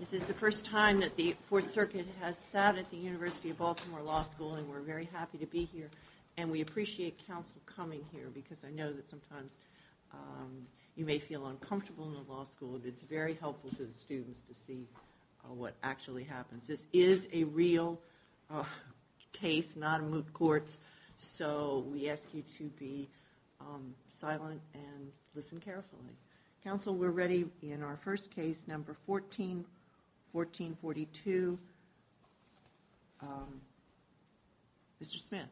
This is the first time that the Fourth Circuit has sat at the University of Baltimore Law School and we're very happy to be here. And we appreciate counsel coming here because I know that sometimes you may feel uncomfortable in the law school, but it's very helpful to the students to see what actually happens. This is a real case, not a moot court, so we ask you to be silent and listen carefully. Counsel, we're ready in our first case, number 14, 1442. Mr. Smith.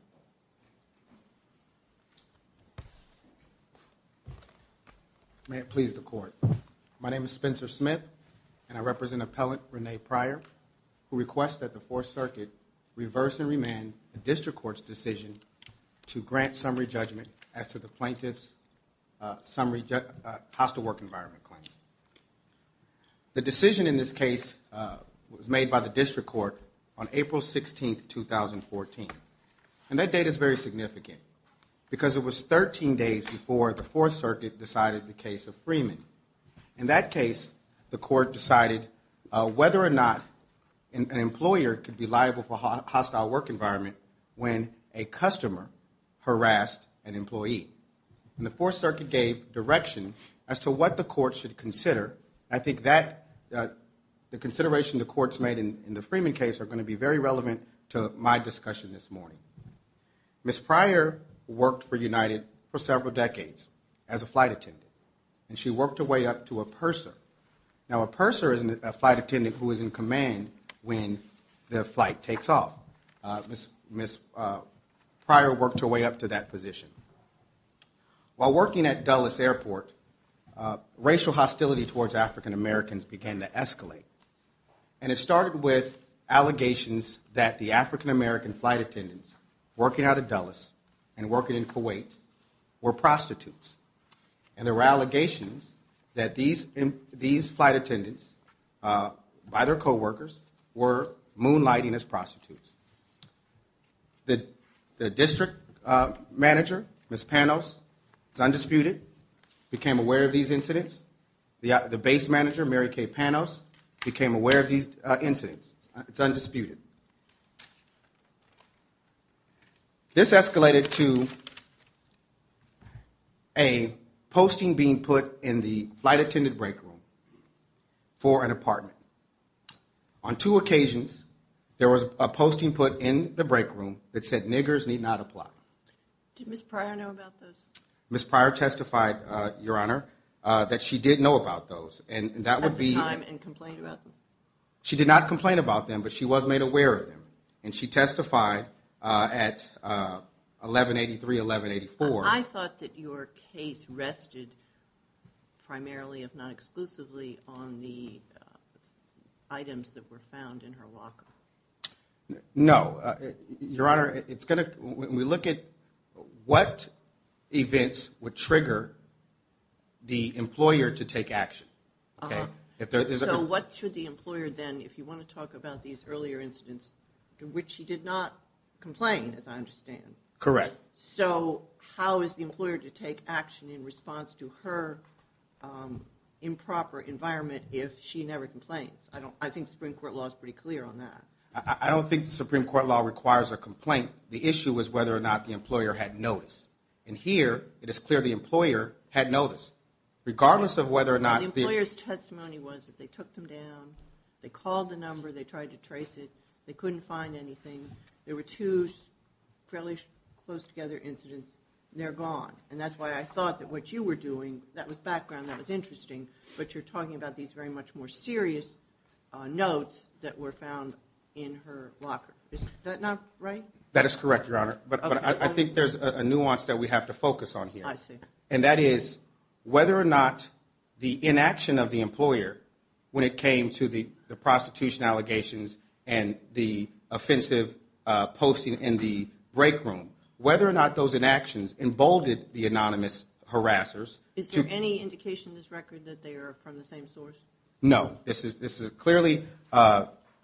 May it please the Court. My name is Spencer Smith and I represent Appellant Renee Pryor who requests that the Fourth Circuit reverse and remand the District Court's decision to grant summary judgment as to the plaintiff's hostile work environment claim. The decision in this case was made by the District Court on April 16, 2014. And that date is very significant because it was 13 days before the Fourth Circuit decided the case of Freeman. In that case, the Court decided whether or not an employer could be liable for hostile work environment when a customer harassed an employee. And the Fourth Circuit gave direction as to what the Court should consider. I think that the consideration the Court's made in the Freeman case are going to be very relevant to my discussion this morning. Ms. Pryor worked for United for several decades as a flight attendant. And she worked her way up to a purser. Now Ms. Pryor worked her way up to that position. While working at Dulles Airport, racial hostility towards African-Americans began to escalate. And it started with allegations that the African-American flight attendants working out of Dulles and working in Kuwait were prostitutes. And there were allegations that these flight attendants by their co-workers were moonlighting as prostitutes. The district manager, Ms. Panos, it's undisputed, became aware of these incidents. The base manager, Mary Kay Panos, became aware of these incidents. It's undisputed. This escalated to a posting being put in the flight attendant break room for an apartment. On two occasions, there was a posting put in the break room that said niggers need not apply. Did Ms. Pryor know about those? Ms. Pryor testified, Your Honor, that she did know about those. And that would be... At the time and complained about them? She did not complain about them, but she was made aware of them. And she testified at 1183, 1184. I thought that your case rested primarily, if not exclusively, on the items that were found in her locker. No. Your Honor, it's going to... When we look at what events would trigger the employer to take action, okay? So what should the employer then, if you want to talk about these earlier incidents in which she did not complain, as I understand. Correct. So how is the employer to take action in response to her improper environment if she never complains? I think the Supreme Court law is pretty clear on that. I don't think the Supreme Court law requires a complaint. The issue is whether or not the employer had notice. And here, it is clear the employer had notice. Regardless of whether or not... The employer's testimony was that they took them down, they called the number, they tried to trace it, they couldn't find anything. There were two fairly close together incidents, and they're gone. And that's why I thought that what you were doing, that was background, that was interesting, but you're talking about these very much more serious notes that were found in her locker. Is that not right? That is correct, Your Honor. But I think there's a nuance that we have to focus on here. I see. And that is whether or not the inaction of the employer when it came to the prostitution allegations and the offensive posting in the break room, whether or not those inactions emboldened the anonymous harassers... Is there any indication in this record that they are from the same source? No. This is clearly...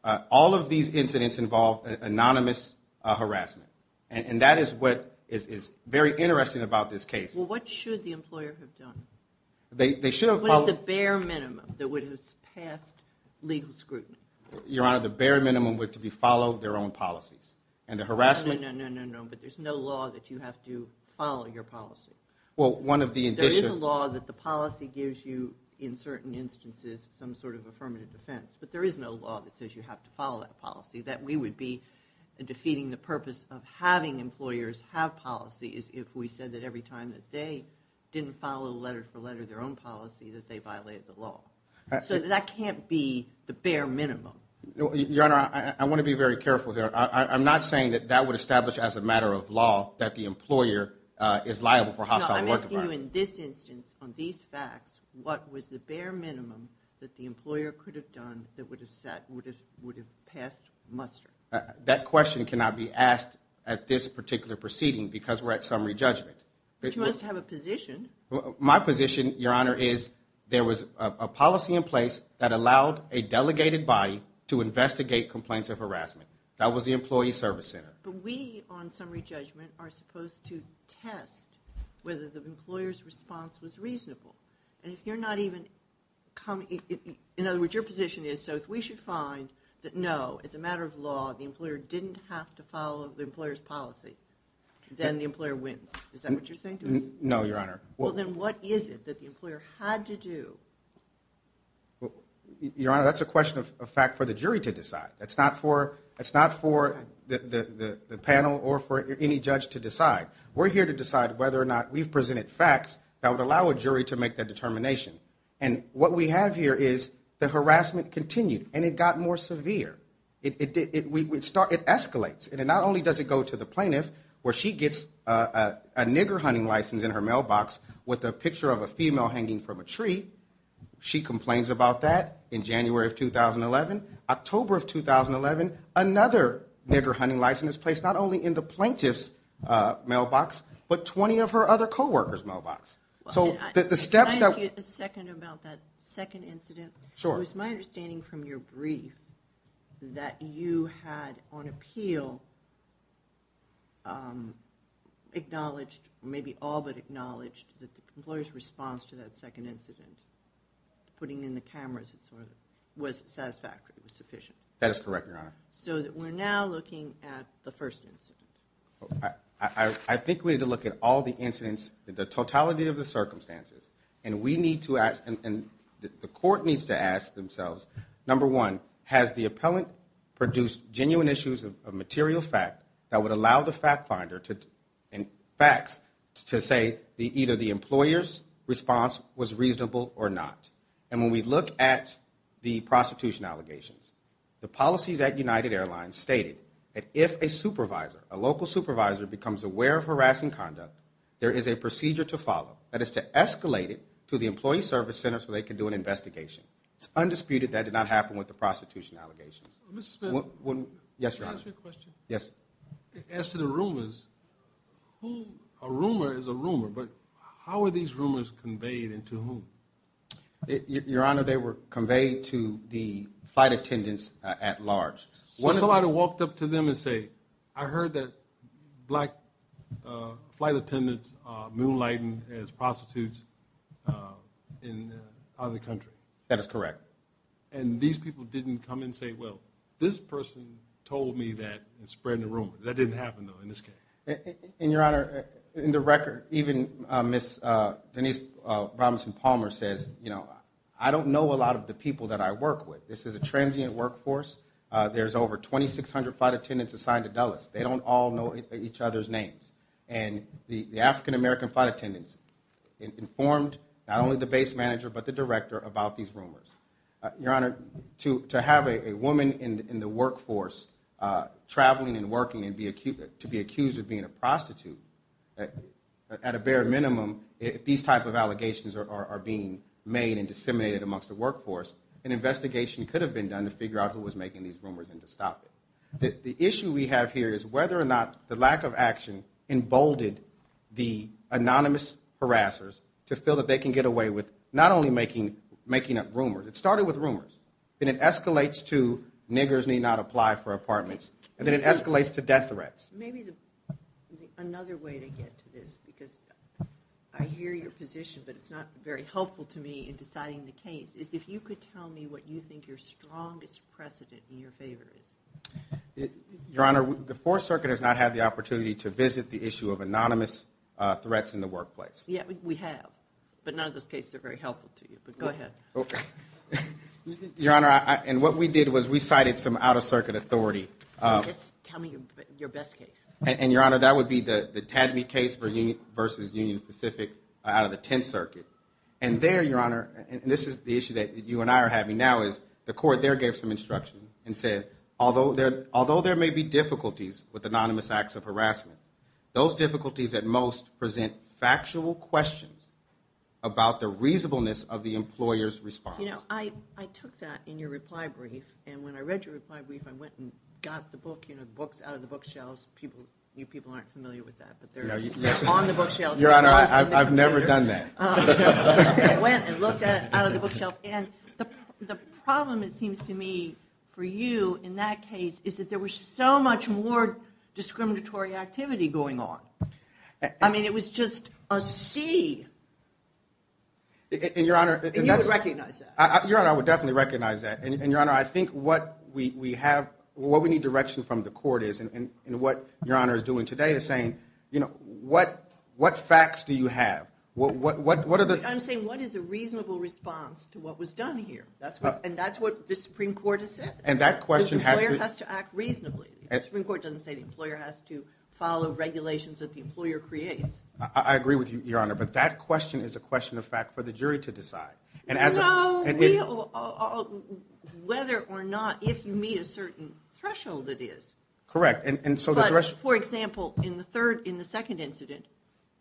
All of these incidents involved anonymous harassment. And that is what is very interesting about this case. Well, what should the employer have done? They should have followed... What is the bare minimum that would have passed legal scrutiny? Your Honor, the bare minimum would be to follow their own policies. And there's no law that you have to follow your policy. Well, one of the... There is a law that the policy gives you, in certain instances, some sort of affirmative defense. But there is no law that says you have to follow that policy, that we would be defeating the purpose of having employers have policies if we said that every time that they didn't follow letter for letter their own policy, that they violated the law. So that can't be the bare minimum. Your Honor, I want to be very careful here. I'm not saying that that would establish as a matter of law that the employer is liable for hostile... I'm asking you in this instance, on these facts, what was the bare minimum that the employer could have done that would have sat... Would have passed muster? That question cannot be asked at this particular proceeding because we're at summary judgment. But you must have a position. My position, Your Honor, is there was a policy in place that allowed a delegated body to investigate complaints of harassment. That was the employee service center. But we, on summary judgment, are supposed to test whether the employer's response was reasonable. And if you're not even coming... In other words, your position is, so if we should find that, no, as a matter of law, the employer didn't have to follow the employer's policy, then the employer wins. Is that what you're saying to me? No, Your Honor. Well, then what is it that the employer had to do? Your Honor, that's a question of fact for the jury to decide. That's not for... It's not for the panel or for any judge to decide. We're here to decide whether or not we've presented facts that would allow a jury to make that determination. And what we have here is the harassment continued and it got more severe. It escalates. And not only does it go to the plaintiff where she gets a nigger hunting license in her mailbox with a picture of a female hanging from a tree. She complains about that in January of 2011. October of 2011, another nigger hunting license is placed, not only in the plaintiff's mailbox, but 20 of her other co-workers' mailbox. So the steps... Can I ask you a second about that second incident? Sure. It was my understanding from your brief that you had, on appeal, acknowledged, maybe all but acknowledged, that the employer's response to that second incident, putting in the cameras and so on, was satisfactory, was sufficient. That is correct, Your Honor. So we're now looking at the first incident. I think we need to look at all the incidents, the totality of the circumstances. And we need to ask, and the court needs to ask themselves, number one, has the appellant produced genuine issues of material fact that would allow the to say either the employer's response was reasonable or not. And when we look at the prostitution allegations, the policies at United Airlines stated that if a supervisor, a local supervisor, becomes aware of harassing conduct, there is a procedure to follow. That is to escalate it to the employee service center so they can do an investigation. It's undisputed that did not happen with the prostitution allegations. Mr. Smith. Yes, Your Honor. Can I ask you a question? Yes. As to the rumors, who, a rumor is a rumor, but how are these rumors conveyed and to whom? Your Honor, they were conveyed to the flight attendants at large. So I walked up to them and say, I heard that black flight attendants are moonlighting as prostitutes in the other country. That is correct. And these people didn't come and say, well, this person told me that and spread the rumor. That didn't happen, though, in this case. And Your Honor, in the record, even Ms. Denise Robinson Palmer says, you know, I don't know a lot of the people that I work with. This is a transient workforce. There's over 2,600 flight attendants assigned to Dulles. They don't all know each other's names. And the African-American flight attendants informed not only the base manager but the director about these rumors. Your Honor, to have a woman in the workforce traveling and working and to be accused of being a prostitute, at a bare minimum, if these type of allegations are being made and disseminated amongst the workforce, an investigation could have been done to figure out who was making these rumors and to stop it. The issue we have here is whether or not the lack of action emboldened the anonymous harassers to feel that they can get away with not only making up rumors. It started with rumors. Then it escalates to niggers may not apply for apartments. And then it escalates to death threats. Maybe another way to get to this, because I hear your position, but it's not very helpful to me in deciding the case, is if you could tell me what you think your strongest precedent in your favor is. Your Honor, the Fourth Circuit has not had the opportunity to visit the issue of anonymous threats in the workplace. Yeah, we have. But none of those cases are very helpful to you. But go ahead. Your Honor, and what we did was we cited some out-of-circuit authority. Just tell me your best case. And Your Honor, that would be the Tadme case versus Union Pacific out of the Tenth Circuit. And there, Your Honor, and this is the issue that you and I are having now, is the court there gave some instruction and said, although there may be difficulties with anonymous acts of harassment, those difficulties at most present factual questions about the reasonableness of the employer's response. You know, I took that in your reply brief. And when I read your reply brief, I went and got the book, you know, the books out of the bookshelves. You people aren't familiar with that, but they're on the bookshelves. Your Honor, I've never done that. I went and looked at it out of the bookshelf. And the problem, it seems to me, for you in that case is that there was so much more discriminatory activity going on. I mean, it was just a sea. And Your Honor, and that's... And you would recognize that. Your Honor, I would definitely recognize that. And Your Honor, I think what we have, what we need direction from the court is, and what Your Honor is doing today is saying, you know, what facts do you have? What are the... I'm saying what is a reasonable response to what was done here? And that's what the Supreme Court has said. And that question has to... The employer has to act reasonably. The Supreme Court doesn't say the employer has to follow regulations that the employer creates. I agree with you, Your Honor, but that question is a question of fact for the jury to decide. And as a... No, we all, whether or not, if you meet a certain threshold, it is. Correct. And so the thresh... But, for example, in the third, in the second incident,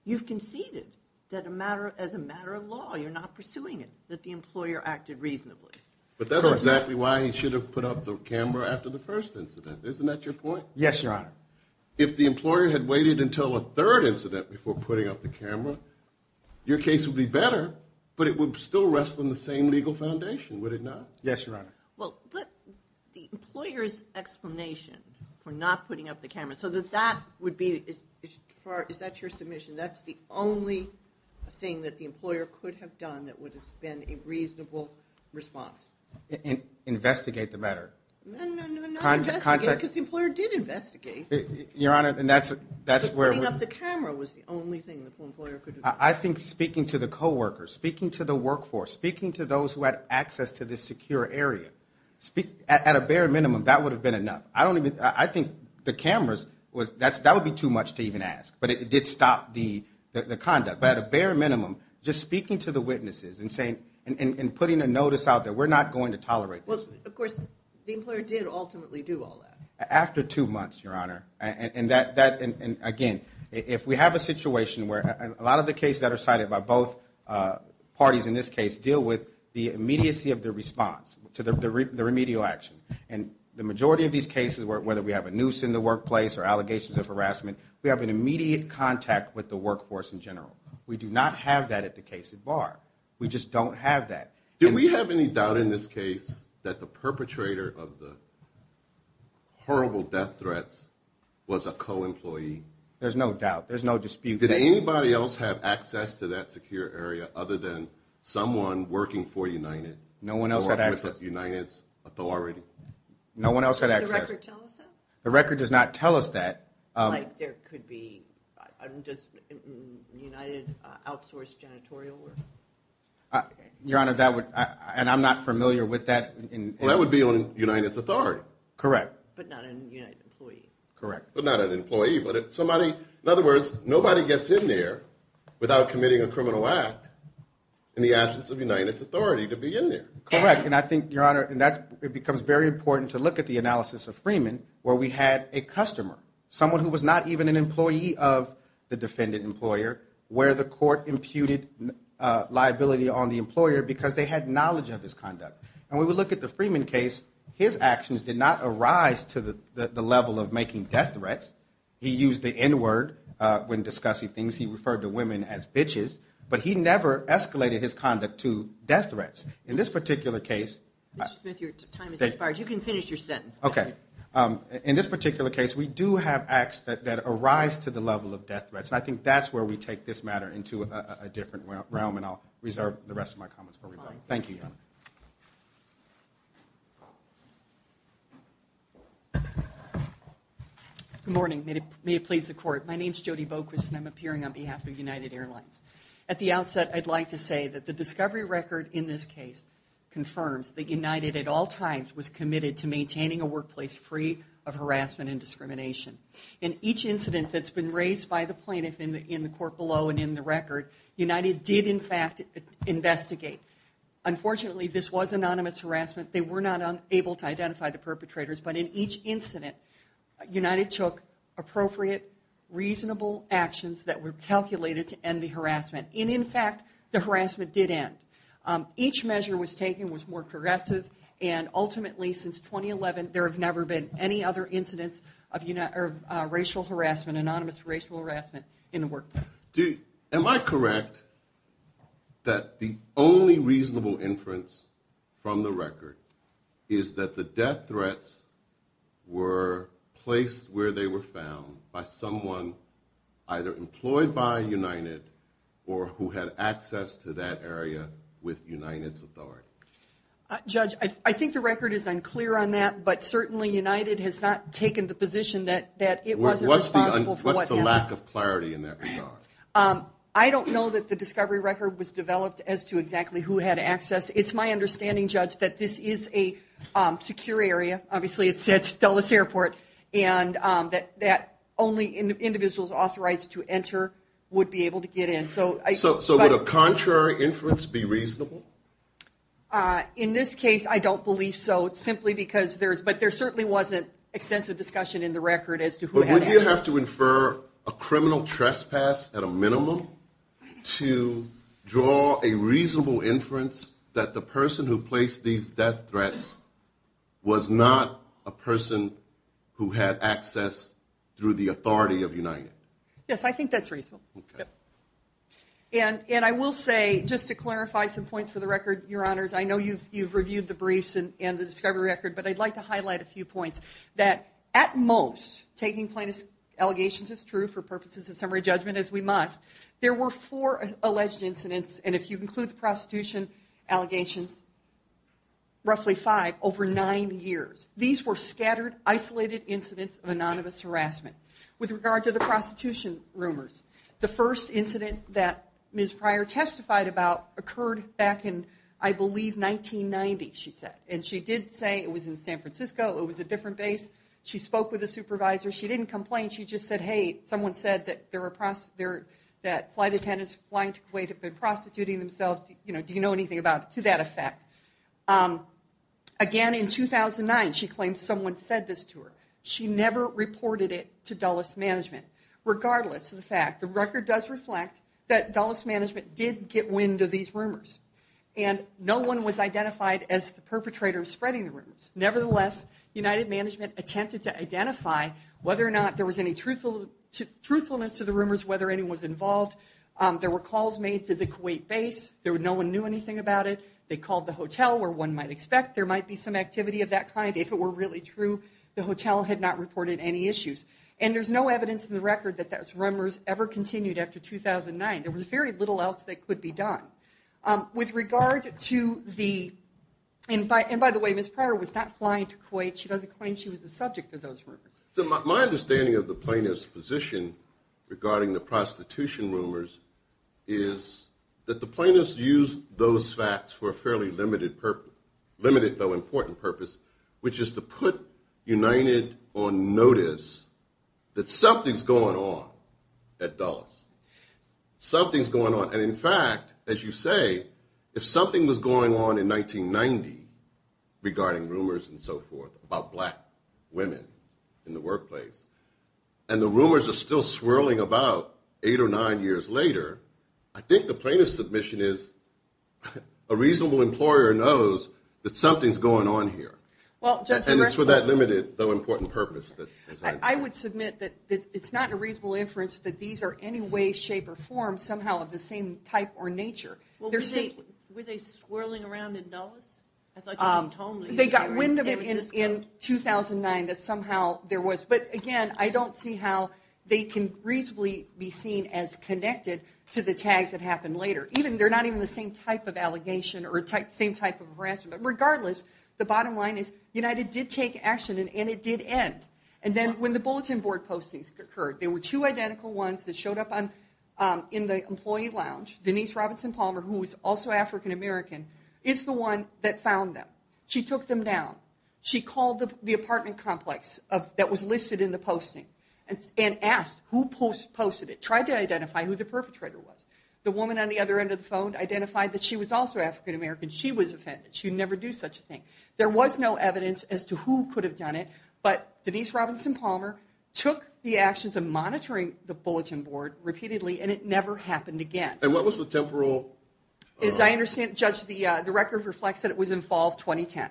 you've conceded that a matter, as a matter of law, you're not pursuing it, that the employer acted reasonably. Correct. But that's exactly why he should have put up the camera after the first incident. Isn't that your point? Yes, Your Honor. If the employer had waited until a third incident before putting up the camera, your case would be better, but it would still rest on the same legal foundation, would it not? Yes, Your Honor. Well, the employer's explanation for not putting up the camera, so that that would be, is that your submission? That's the only thing that the employer could have done that would have been a reasonable response. Investigate the matter. No, no, no, not investigate, because the employer did investigate. Your Honor, and that's where... Putting up the camera was the only thing the employer could have done. I think speaking to the co-workers, speaking to the workforce, speaking to those who had access to this secure area, at a bare minimum, that would have been enough. I don't even, I think the cameras was, that would be too much to even ask, but it did stop the conduct. But at a bare minimum, just speaking to the witnesses and saying, and putting a notice out there, we're not going to tolerate this. Well, of course, the employer did ultimately do all that. After two months, Your Honor, and again, if we have a situation where a lot of the cases that are cited by both parties in this case deal with the immediacy of their response to the remedial action, and the majority of these cases, whether we have a noose in the workplace or allegations of harassment, we have an immediate contact with the workforce in general. We do not have that at the case at bar. We just don't have that. Do we have any doubt in this case that the perpetrator of the horrible death threats was a co-employee? There's no doubt. There's no dispute. Did anybody else have access to that secure area other than someone working for United? No one else had access. Or with United's authority? No one else had access. Does the record tell us that? The record does not tell us that. Like there could be, does United outsource janitorial work? Your Honor, that would, and I'm not familiar with that. Well, that would be on United's authority. Correct. But not an United employee. Correct. But not an employee, but somebody, in other words, nobody gets in there without committing a criminal act in the absence of United's authority to be in there. Correct, and I think, Your Honor, and that becomes very important to look at the analysis of Freeman, where we had a customer, someone who was not even an employee of the defendant employer, where the court imputed liability on the employer because they had knowledge of his conduct. And when we look at the Freeman case, his actions did not arise to the level of making death threats. He used the N-word when discussing things. He referred to women as bitches. But he never escalated his conduct to death threats. In this particular case... Mr. Smith, your time has expired. You can finish your sentence. Okay. In this particular case, we do have acts that arise to the level of death threats, and I think that's where we take this matter into a different realm, and I'll reserve the rest of my comments for rebuttal. Thank you, Your Honor. Good morning. May it please the Court. My name's Jody Boquist, and I'm appearing on behalf of United Airlines. At the outset, I'd like to say that the discovery record in this case confirms that United, at all times, was committed to maintaining a workplace free of harassment and discrimination. In each incident that's been raised by the plaintiff in the court below and in the record, United did, in fact, investigate. Unfortunately, this was anonymous harassment. They were not able to identify the perpetrators, but in each incident, United took appropriate, reasonable actions that were calculated to end the harassment. And, in fact, the harassment did end. Each measure was taken was more progressive, and ultimately, since 2011, there have never been any other incidents of racial harassment, anonymous racial harassment, in the workplace. Am I correct that the only reasonable inference from the record is that the death threats were placed where they were found by someone either employed by United or who had access to that area with United's authority? Judge, I think the record is unclear on that, but certainly United has not taken the position that it wasn't responsible for what happened. What's the lack of clarity in that regard? I don't know that the discovery record was developed as to exactly who had access. It's my understanding, Judge, that this is a secure area. Obviously, it's at Dulles Airport, and that only individuals authorized to enter would be able to get in. So would a contrary inference be reasonable? In this case, I don't believe so, simply because there is, but there certainly wasn't extensive discussion in the record as to who had access. Would you have to infer a criminal trespass at a minimum to draw a reasonable inference that the person who placed these death threats was not a person who had access through the authority of United? Yes, I think that's reasonable. And I will say, just to clarify some points for the record, Your Honors, I know you've reviewed the briefs and the discovery record, but I'd like to highlight a few points. That at most, taking plaintiff's allegations is true for purposes of summary judgment, as we must. There were four alleged incidents, and if you include the prostitution allegations, roughly five, over nine years. These were scattered, isolated incidents of anonymous harassment. With regard to the prostitution rumors, the first incident that Ms. Pryor testified about occurred back in, I believe, 1990, she said. And she did say it was in San Francisco. It was a different base. She spoke with a supervisor. She didn't complain. She just said, hey, someone said that flight attendants flying to Kuwait have been prostituting themselves. Do you know anything about it? To that effect. Again, in 2009, she claimed someone said this to her. She never reported it to Dulles Management. Regardless of the fact, the record does reflect that Dulles Management did get wind of these rumors. And no one was identified as the perpetrator of spreading the rumors. Nevertheless, United Management attempted to identify whether or not there was any truthfulness to the rumors, whether anyone was involved. There were calls made to the Kuwait base. No one knew anything about it. They called the hotel, where one might expect there might be some activity of that kind. If it were really true, the hotel had not reported any issues. And there's no evidence in the record that those rumors ever continued after 2009. There was very little else that could be done. With regard to the, and by the way, Ms. Pryor was not flying to Kuwait. She doesn't claim she was the subject of those rumors. My understanding of the plaintiff's position regarding the prostitution rumors is that the plaintiffs used those facts for a fairly limited purpose, limited though important purpose, which is to put United on notice that something's going on at Dulles. Something's going on. And in fact, as you say, if something was going on in 1990 regarding rumors and so forth about black women in the workplace, and the rumors are still swirling about eight or nine years later, I think the plaintiff's submission is a reasonable employer knows that something's going on here. And it's for that limited though important purpose. I would submit that it's not a reasonable inference that these are any way, shape, or form somehow of the same type or nature. Were they swirling around in Dulles? They got wind of it in 2009 that somehow there was. But again, I don't see how they can reasonably be seen as connected to the tags that happened later. They're not even the same type of allegation or the same type of harassment. But regardless, the bottom line is United did take action and it did end. And then when the bulletin board postings occurred, there were two identical ones that showed up in the employee lounge. Denise Robinson Palmer, who was also African American, is the one that found them. She took them down. She called the apartment complex that was listed in the posting and asked who posted it. Tried to identify who the perpetrator was. The woman on the other end of the phone identified that she was also African American. She was offended. She would never do such a thing. There was no evidence as to who could have done it. But Denise Robinson Palmer took the actions of monitoring the bulletin board repeatedly and it never happened again. And what was the temporal? As I understand, Judge, the record reflects that it was in fall of 2010.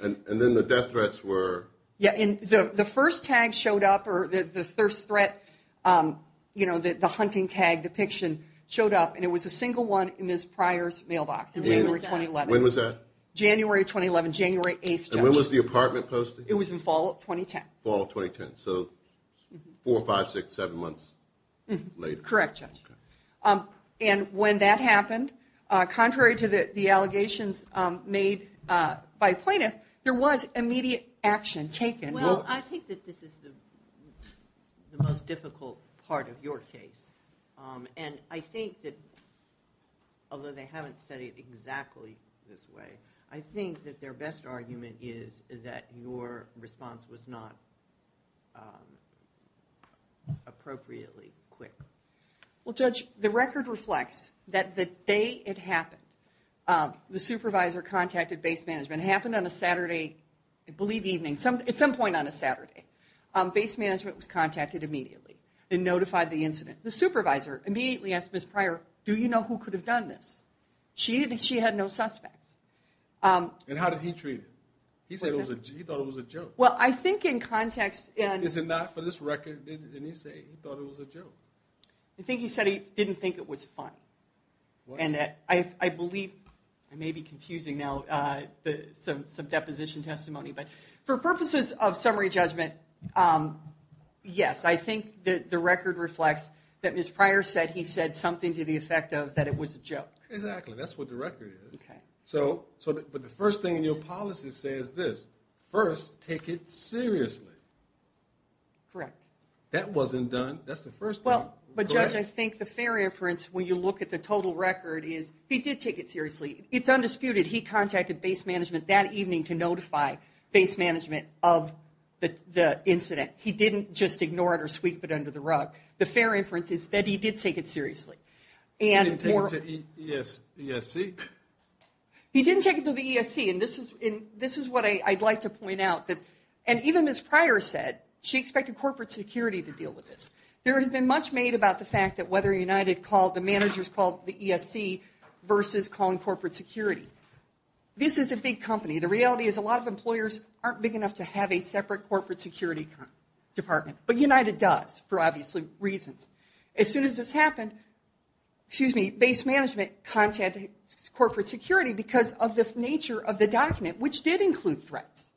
And then the death threats were? Yeah, the first tag showed up or the first threat, the hunting tag depiction showed up and it was a single one in Ms. Pryor's mailbox in January 2011. When was that? January 2011, January 8th, Judge. And when was the apartment posted? It was in fall of 2010. Fall of 2010, so four, five, six, seven months later. Correct, Judge. And when that happened, contrary to the allegations made by plaintiffs, there was immediate action taken. Well, I think that this is the most difficult part of your case. And I think that, although they haven't said it exactly this way, I think that their best argument is that your response was not appropriately quick. Well, Judge, the record reflects that the day it happened, the supervisor contacted base management. It happened on a Saturday, I believe evening, at some point on a Saturday. Base management was contacted immediately and notified the incident. The supervisor immediately asked Ms. Pryor, do you know who could have done this? She had no suspects. And how did he treat it? He said he thought it was a joke. Well, I think in context... Is it not for this record? Didn't he say he thought it was a joke? I think he said he didn't think it was funny. And I believe... I may be confusing now some deposition testimony, but for purposes of summary judgment, yes, I think that the record reflects that Ms. Pryor said he said something to the effect of that it was a joke. Exactly, that's what the record is. But the first thing in your policy says this. First, take it seriously. Correct. That wasn't done. That's the first point. But Judge, I think the fair inference when you look at the total record is he did take it seriously. It's undisputed he contacted base management that evening to notify base management of the incident. He didn't just ignore it or sweep it under the rug. The fair inference is that he did take it seriously. He didn't take it to the ESC. He didn't take it to the ESC. And this is what I'd like to point out. And even Ms. Pryor said she expected corporate security to deal with this. There has been much made about the fact that whether United called, the managers called the ESC versus calling corporate security. This is a big company. The reality is a lot of employers aren't big enough to have a separate corporate security department. But United does for obviously reasons. As soon as this happened, excuse me, base management contacted corporate security because of the nature of the document, which did include threats.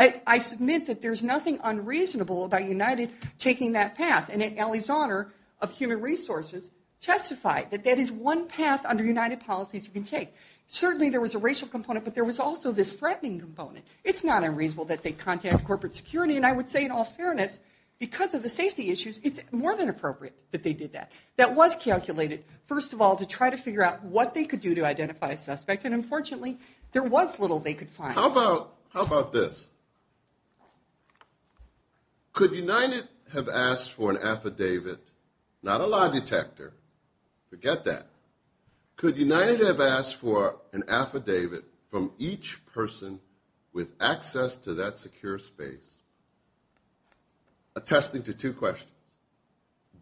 I submit that there's nothing unreasonable about United taking that path. And in Ali's honor of human resources, testified that that is one path under United policies you can take. Certainly there was a racial component, but there was also this threatening component. It's not unreasonable that they contacted corporate security. And I would say in all fairness, because of the safety issues, it's more than appropriate that they did that. That was calculated, first of all, to try to figure out what they could do to identify a suspect. And unfortunately, there was little they could find. How about this? Could United have asked for an affidavit, not a lie detector. Forget that. Could United have asked for an affidavit from each person with access to that secure space attesting to two questions.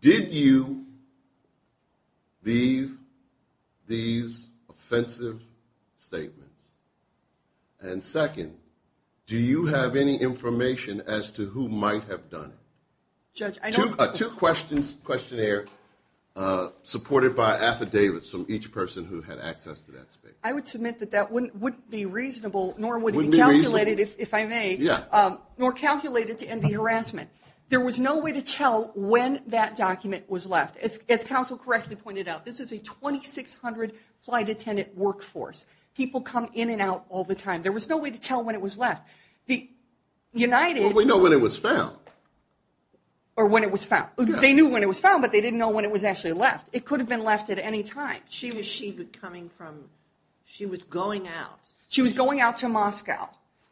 Did you leave these offensive statements and second, do you have any information as to who might have done it? Two questions, questionnaire, supported by affidavits from each person who had access to that space. I would submit that that wouldn't be reasonable nor would it be calculated, if I may, nor calculated to end the harassment. There was no way to tell when that document was left. As counsel correctly pointed out, this is a 2600 flight attendant workforce. They come in and out all the time. There was no way to tell when it was left. Well, we know when it was found. Or when it was found. They knew when it was found but they didn't know when it was actually left. It could have been left at any time. She was going out. She was going out to Moscow.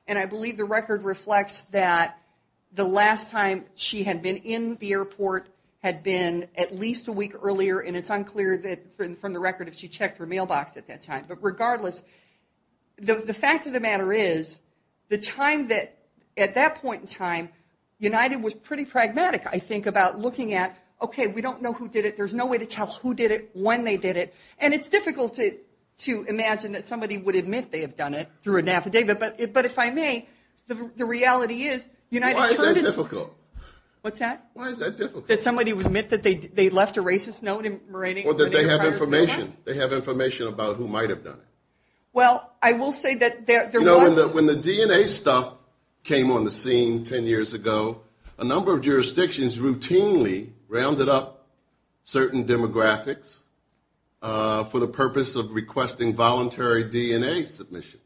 And I believe the record reflects that the last time she had been in the airport had been at least a week earlier and it's unclear from the record if she checked her mailbox at that time. The fact of the matter is the time that at that point in time United was pretty pragmatic I think about looking at okay, we don't know who did it. There's no way to tell who did it, when they did it. And it's difficult to imagine that somebody would admit they have done it through an affidavit. But if I may, the reality is Why is that difficult? What's that? Why is that difficult? That somebody would admit that they left a racist note Or that they have information about who might have done it. Well, I will say that When the DNA stuff came on the scene 10 years ago a number of jurisdictions routinely rounded up certain demographics for the purpose of requesting voluntary DNA submissions.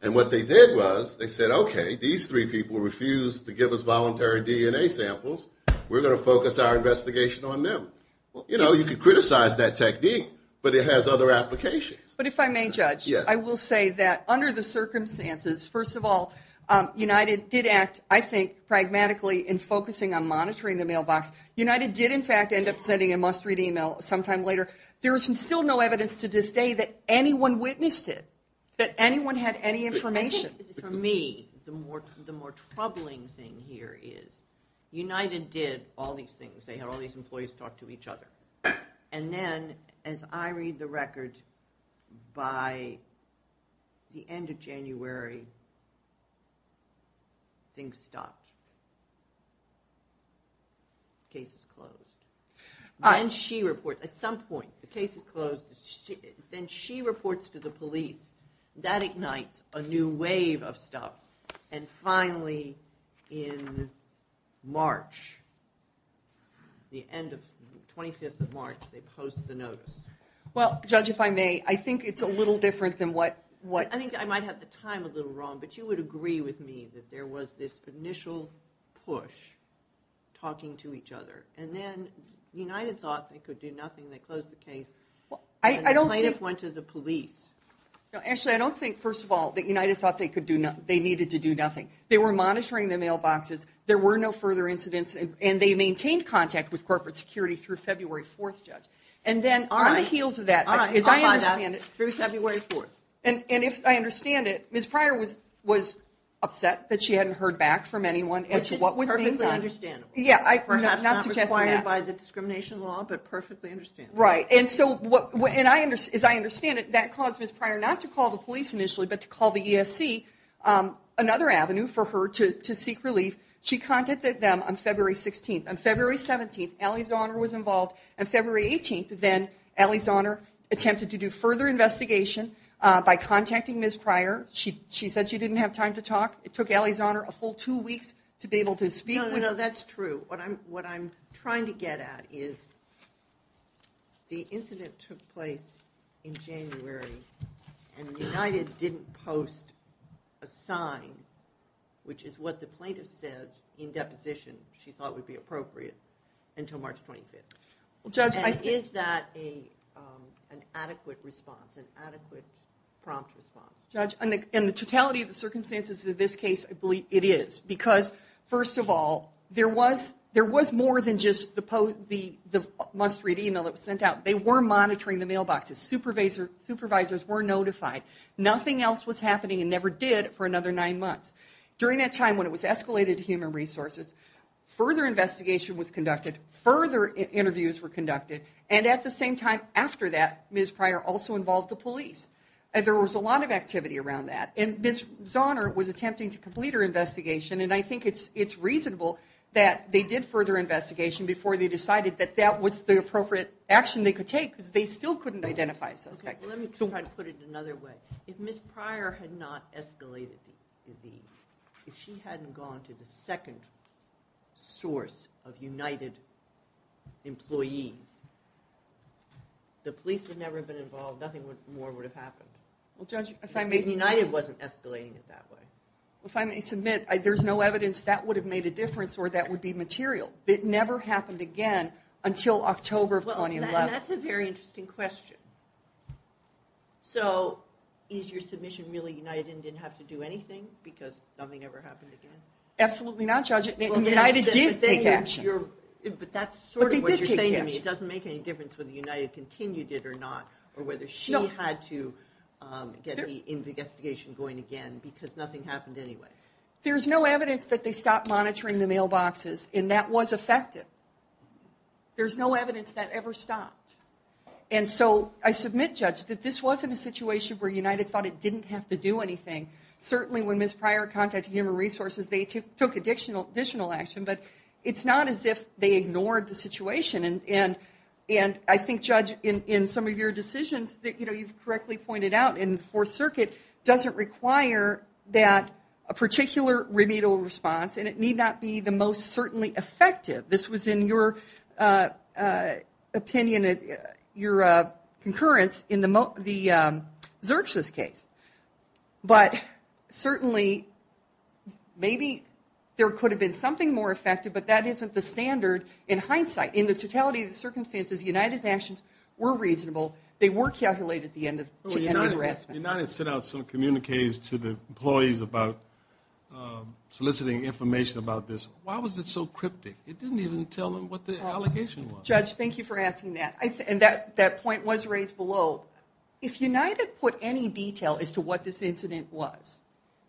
And what they did was they said, we're going to focus our investigation on them. You know, you could criticize that technique but it has other applications. But if I may judge I will say that under the circumstances first of all United did act I think pragmatically in focusing on monitoring the mailbox United did in fact end up sending a must-read email sometime later. There is still no evidence to this day that anyone witnessed it. That anyone had any information. For me the more troubling thing here is United did all these things they had all these employees talk to each other and then as I read the record by the end of January things stopped. Case is closed. Then she reports at some point the case is closed then she reports to the police that ignites a new wave of stuff and finally in March the end of 25th of March they post the notice. Well judge if I may I think it's a little different than what I think I might have the time a little wrong but you would agree with me that there was this initial push talking to each other and then United thought they could do nothing they closed the case and the plaintiff went to the police. Actually I don't think first of all that United thought they needed to do nothing they were monitoring the mailboxes there were no further incidents and they maintained contact with corporate security through February 4th judge and then on the heels of that as I understand it and if I understand it Ms. Pryor was upset that she hadn't heard back from anyone as to what was being done. Which is perfectly understandable. Perhaps not required by the discrimination law but perfectly understandable. Right and so as I understand it that caused Ms. Pryor not to call the police initially but to call the ESC another avenue for her to seek relief she contacted them on February 16th on February 17th Allie Zahner was involved on February 18th then Allie Zahner attempted to do further investigation by contacting Ms. Pryor she said she didn't have time to talk it took Allie Zahner a full two weeks to be able to speak No no that's true what I'm trying to get at is that the incident took place in January and United didn't post a sign which is what the plaintiff said in deposition she thought would be appropriate until March 25th Judge is that an adequate response an adequate prompt response Judge in the totality of the circumstances of this case I believe it is because first of all there was there was more than just the must read email that was sent out they were monitoring the mailboxes supervisors were notified nothing else was happening and never did for another nine months during that time when it was escalated to human resources further investigation was conducted further interviews were conducted and at the same time after that Ms. Pryor also involved the police there was a lot of activity around that and Ms. Zahner was attempting to complete her investigation and I think it's reasonable that they did further investigation before they decided that that was the appropriate action they could take because they still couldn't identify suspect let me try to put it another way if Ms. Pryor had not escalated the if she hadn't gone to the second source of United employees the police would never have been involved nothing more would have happened if United wasn't escalating it that way if I may submit there's no evidence that would have made a difference or that would be material it never happened again until October of 2011 well that's a very interesting question so is your submission really United didn't have to do anything because nothing ever happened again absolutely not Judge United did take action but that's sort of what you're saying to me it doesn't make any difference whether United continued it or not or whether she had to get the investigation going again because nothing happened anyway there's no evidence that they stopped monitoring the mailboxes and that was effective there's no evidence that ever stopped and so I submit Judge that this wasn't a situation where United thought it didn't have to do anything certainly when Ms. Prior contacted they took additional action but it's not as if they ignored the situation and I think Judge in some of your decisions you've correctly pointed out in the Fourth Circuit a particular remedial response and it need not be the most certainly effective this was in your opinion your concurrence in the Zurch's case but certainly maybe there could have been something more effective but that isn't the standard in hindsight in the totality of the circumstances United's actions were reasonable they were calculated at the end of the harassment when United sent out some communiques to the employees about soliciting information about this why was it so cryptic it didn't even tell them what the allegation was Judge thank you for asking that and that point was raised below if United put any detail as to what this incident was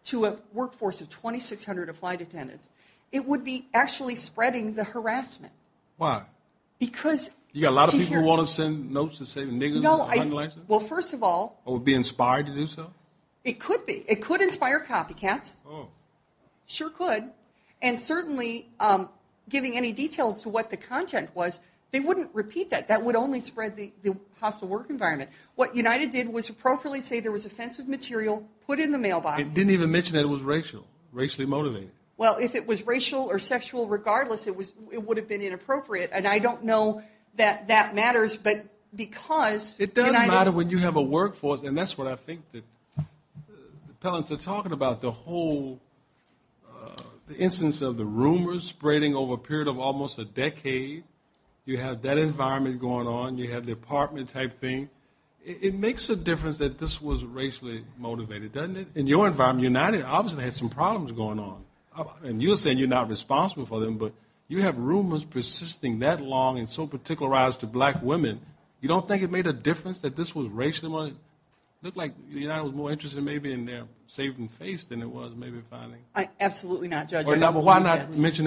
to a workforce of 2600 flight attendants it would be actually spreading the harassment why because you got a lot of people who want to send notes to say niggas well first of all or be inspired to do so it could be it could inspire copycats sure could and certainly giving any details to what the content was they wouldn't repeat that that would only spread the hostile work environment what United did was appropriately say there was offensive material put in the mailbox it didn't even mention that it was racial racially motivated well if it was racial or sexual regardless it would have been inappropriate and I don't know that that matters but because it doesn't matter when you have a workforce and that's what I think that appellants are talking about the whole instance of the rumors spreading over a period of almost a decade you have that environment going on you have the department type thing it makes a difference that this was racially motivated doesn't it in your environment United obviously has some problems going on and you're saying you're not responsible for them but you have rumors persisting that long and so particularized to black women you don't think it made a difference that this was racially motivated look like United was more interested maybe in their saving face than it was maybe finding absolutely not judge why not why not because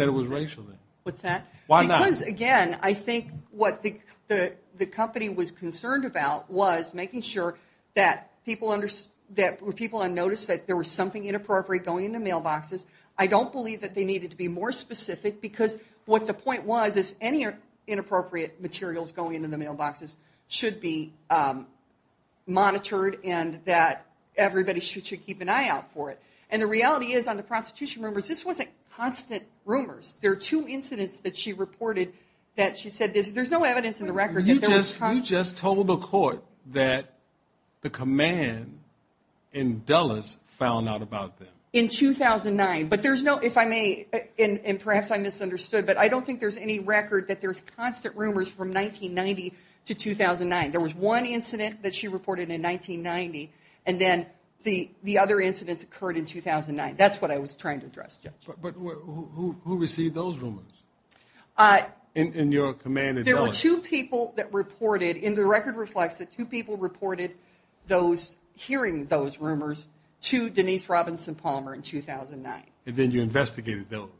again I think what the company was concerned about was making sure that people noticed that there was something inappropriate going into mailboxes I don't believe that they needed to be more specific because what the point was is any inappropriate materials going into the mailboxes should be monitored and that everybody should keep an eye out for it and the reality is on the prostitution rumors this wasn't constant rumors there are two incidents that she reported that she said there's no evidence in the record you just told the court that the command in Dulles found out about them in 2009 but there's no if I may and perhaps I misunderstood but I don't think there's any record that there's constant rumors from 1990 to 2009 there was one incident that she reported in 1990 and then the other incidents occurred in 2009 that's what I was trying to address Judge but who received those rumors in your command in Dulles there were two people that reported in the record the record reflects that two people reported those hearing those rumors to Denise Robinson Palmer in 2009 and then you investigated those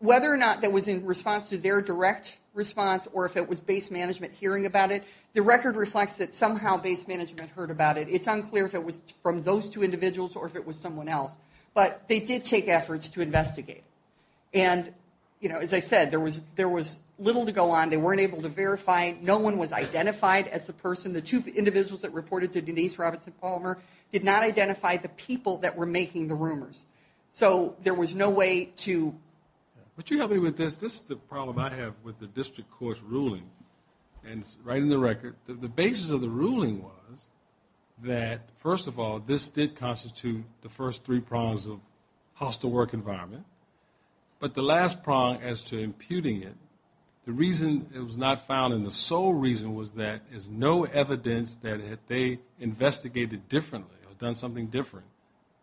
whether or not that was in response to their direct response or if it was base management hearing about it the record reflects that somehow base management heard about it it's unclear if it was from those two individuals or if it was someone else but they did take efforts to investigate and you know as I said there was little to go on they weren't able to verify no one was identified as the person the two individuals that reported to Denise Robinson Palmer did not identify the people that were making the rumors so there was no way to but you help me with this this is the problem I have with the district court's ruling and writing the record the basis of the ruling was that first of all this did constitute the first three prongs of hostile work environment but the last prong as to imputing it the reason it was not found in the sole reason was that there's no evidence that they investigated differently or done something different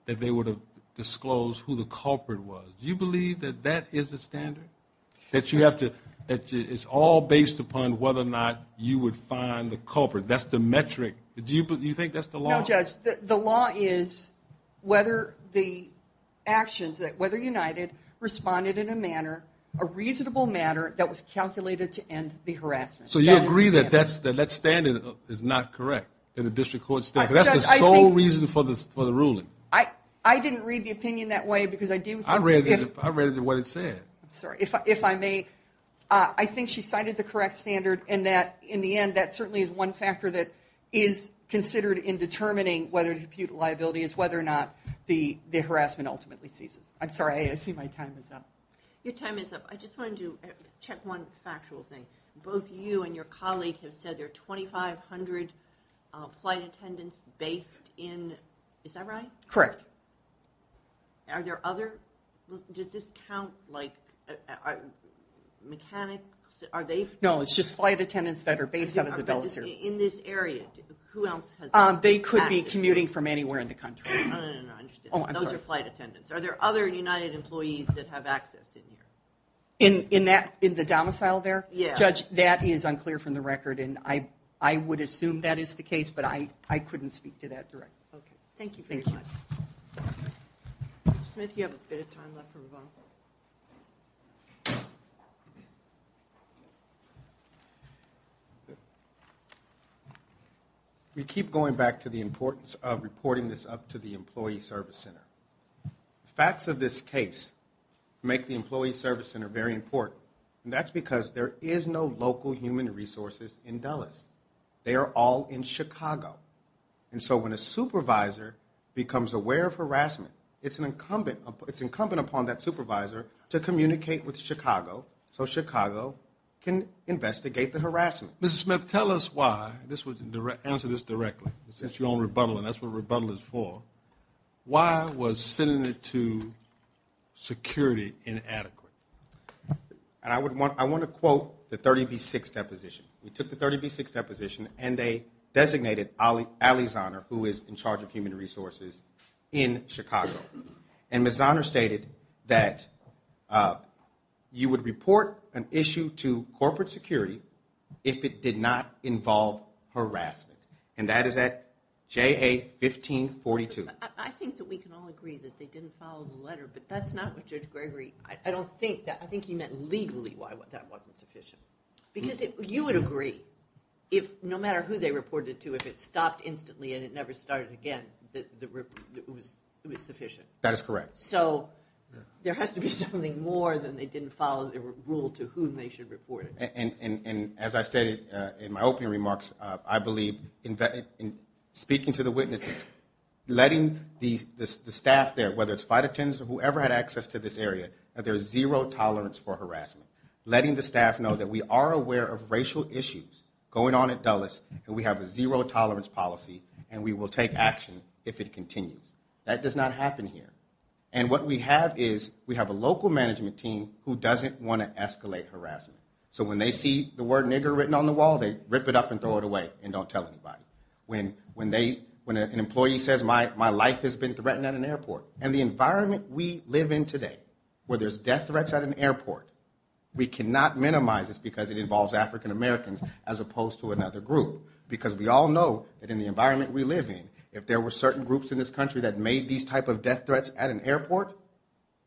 that they would have disclosed who the culprit was do you believe that that is the standard that you have to that it's all based upon whether or not you would find the culprit that's the metric do you think that's the law no judge the law is whether the actions whether United responded in a manner a reasonable manner that was calculated to end the harassment so you agree that that standard is not correct in the district court's ruling I didn't read the opinion that way because I do I read it what it said if I may I think she cited the correct standard and that in the end that certainly is one factor that is considered in determining whether to impute a liability is whether or not the harassment ultimately ceases I'm sorry I see my time is up your time is up I just wanted to check just one factual thing both you and your colleague have said there are 2500 flight attendants based in is that right correct are there other does this count like mechanics are they no it's just flight attendants that are based in this area who else they could be commuting from anywhere in the country no no no those are flight attendants are there other United employees that have access in that in the domicile there judge that is unclear from the record and I would assume that is the case but I couldn't speak to that directly thank you thank you Mr. Smith you have a bit of time left for rebuttal we keep going back to the importance of reporting this up to the employee service center facts of this case make the employee service center very important and that's because there is no local human resources in Dulles they are all in Chicago and so when a supervisor becomes aware of harassment it's incumbent upon that supervisor to communicate with Chicago so Chicago can investigate the harassment Mr. Smith tell us why answer this directly since you're on rebuttal and that's what rebuttal is for why was sending it to security inadequate I want to quote the 30B6 deposition we took the 30B6 deposition and they designated Ali Zahner who is in charge of human resources in Chicago and Ms. Zahner stated that you would report an issue to corporate security if it did not involve harassment and that is at JA1542 I think that we can all agree that they didn't follow the letter but that's not what Judge Gregory I don't think I think he meant legally why that wasn't sufficient because you would agree if no matter who they reported to if it stopped instantly and it never started again it was sufficient that is correct so there has to be something more than they didn't follow the rule to who they should report it and as I stated in my opening remarks I believe in speaking to the witnesses letting the staff there whether it's fight attendants or whoever had access to this area that there is zero tolerance for harassment letting the staff know that we are aware of racial issues going on at Dulles and we have a zero tolerance policy and we will take action if it continues that does not happen here and what we have is we have a local management team who doesn't want to escalate harassment so when they see the word nigger written on the wall they rip it up and throw it away and don't tell anybody when an employee says my life has been threatened at an airport and the environment we live in today where there's death threats at an airport we cannot minimize this because it involves African Americans as opposed to anybody that made these type of death threats at an airport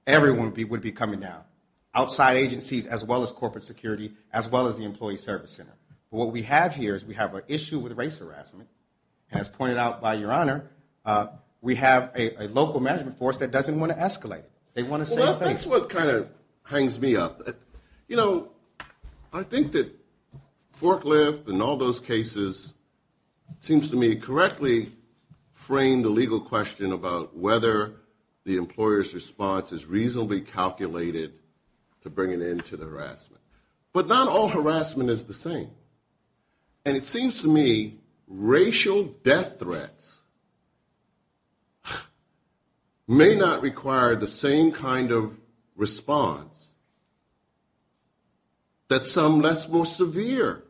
everyone would be coming down outside agencies as well as corporate security as well as the employee service center what we have here is we have an issue with race harassment as pointed out by your honor we have a local management force that doesn't want to escalate they want to say thanks well that's what kind of hangs me up you know I think that Marklift and all those cases seems to me correctly frame the legal question about whether the employer's response is reasonably calculated to bring an end to the harassment but not all harassment is the same and it seems to me racial death threats may not require the same kind of response that some less more severe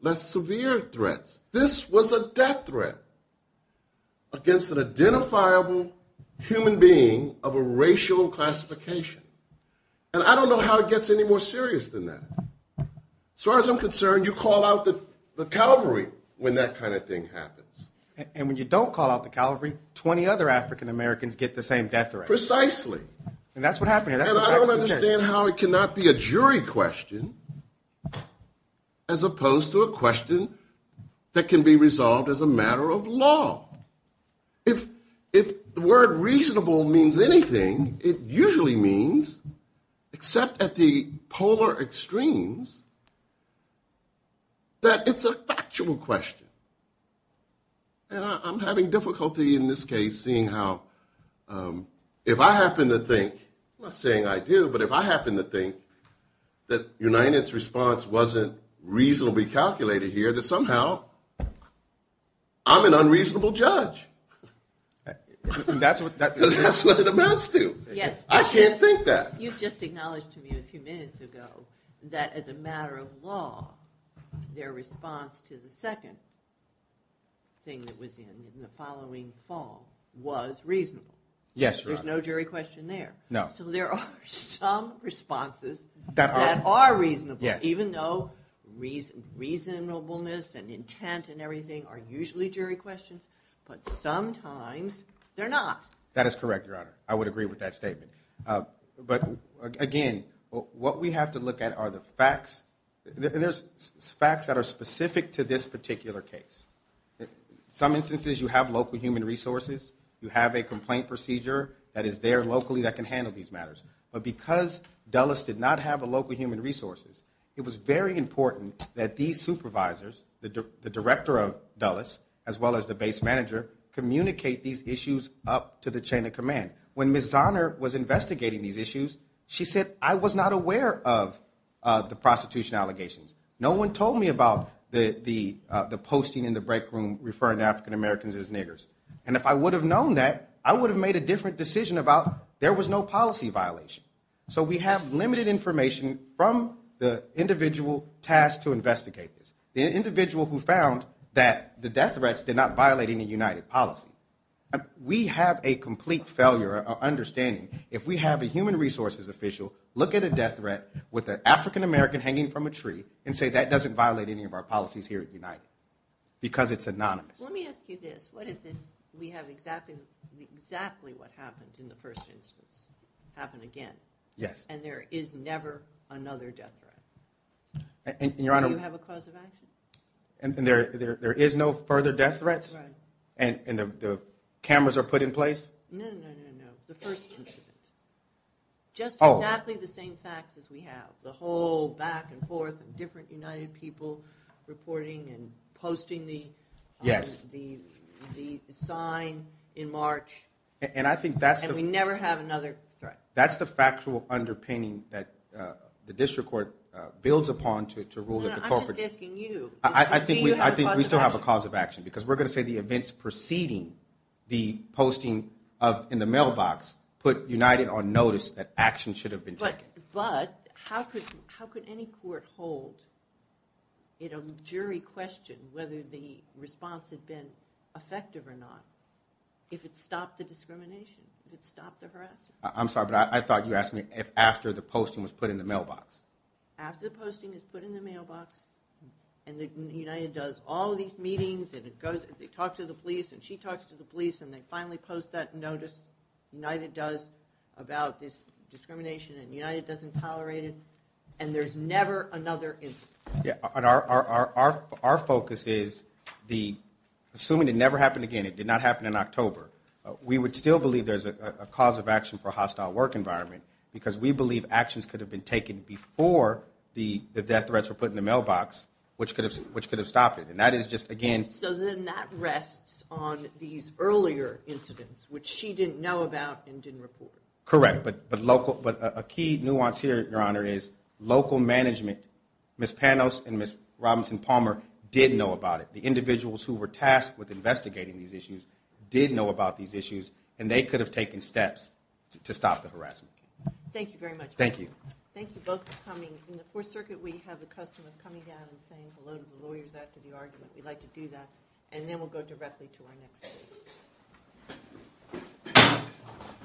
less severe threats this was a death threat against an identifiable human being of a racial classification and I don't know how it gets any more serious than that as far as I'm concerned you call out the Calvary when that kind of thing happens and when you don't call out the Calvary 20 other African Americans get the same death threat precisely and that's what I don't understand how it cannot be a jury question as opposed to a question that can be resolved as a matter of law if if the word reasonable means anything it usually means except at the polar extremes that it's a factual question and I'm having difficulty in this case seeing how if I happen to think I'm not saying I do but if I happen to think that United's response wasn't reasonably calculated here that somehow I'm an unreasonable judge that's what that's what it amounts to I can't think that you've just acknowledged to me a few minutes ago that as a matter of law their response to the second thing that was in in the following fall was reasonable there's no jury question there so there are some responses that are reasonable even though reasonableness and intent and everything are usually jury questions but sometimes they're not that is correct your honor I would agree with that statement but again what we have to look at are the facts there's facts that are specific to this particular case some instances you have local human resources you have a complaint procedure that is there locally that can handle these matters but because Dulles did not have a local human resources it was very important that these supervisors the director of Dulles as well as the base manager communicate these issues up to the chain of command when Ms. Zahner was investigating these issues she said I was not aware of the prostitution allegations no one told me about the posting in the break room referring to African Americans as niggers and if I would have known that I would have made a different decision about there was no policy violation so we have limited information from the individual tasked to investigate this the individual who found that the death threats did not violate any United policy we have a complete failure of understanding if we have a human resources official look at a death threat with an African American hanging from a tree and say that doesn't violate any of our policies here at United because it's anonymous let me ask you this what is this we have exactly exactly what happened in the first instance happened again yes and there is never another death threat and your honor do you have a cause of action there is no further death threats and the cameras are put in place no no no the first incident just exactly the same facts as we have the whole back and forth different United people reporting and posting the sign in March and I think that's the we never have another threat that's the factual underpinning that the district court builds upon to rule I'm just asking you I think we still have a cause of action because we're going to say the events preceding the posting of in the mailbox put United on notice that action should have been taken but how could how could any court hold in a jury question whether the response had been effective or not if it stopped the discrimination if it stopped the harassment I'm sorry but I thought you asked me if after the posting was put in the mailbox after the posting is put in the mailbox and United does all these meetings and it goes they talk to the police and she talks to the police and they finally post that notice United does nothing about this discrimination and United doesn't tolerate it and there's never another incident our focus is the assuming it never happened again it did not happen in October we would still believe there's a cause of action for a hostile work environment because we believe actions could have been taken before the death threats were put in the mailbox which could have stopped it and that is correct but a key nuance here your honor is local management Ms. Panos and Ms. Robinson Palmer did know about it the individuals who were tasked with investigating these issues did know about these issues and they could have taken steps to stop the harassment thank you thank you thank you both for coming in the 4th circuit we have a customer coming down and saying hello to the lawyers after the argument we'd like to do that and then we'll go directly to our next case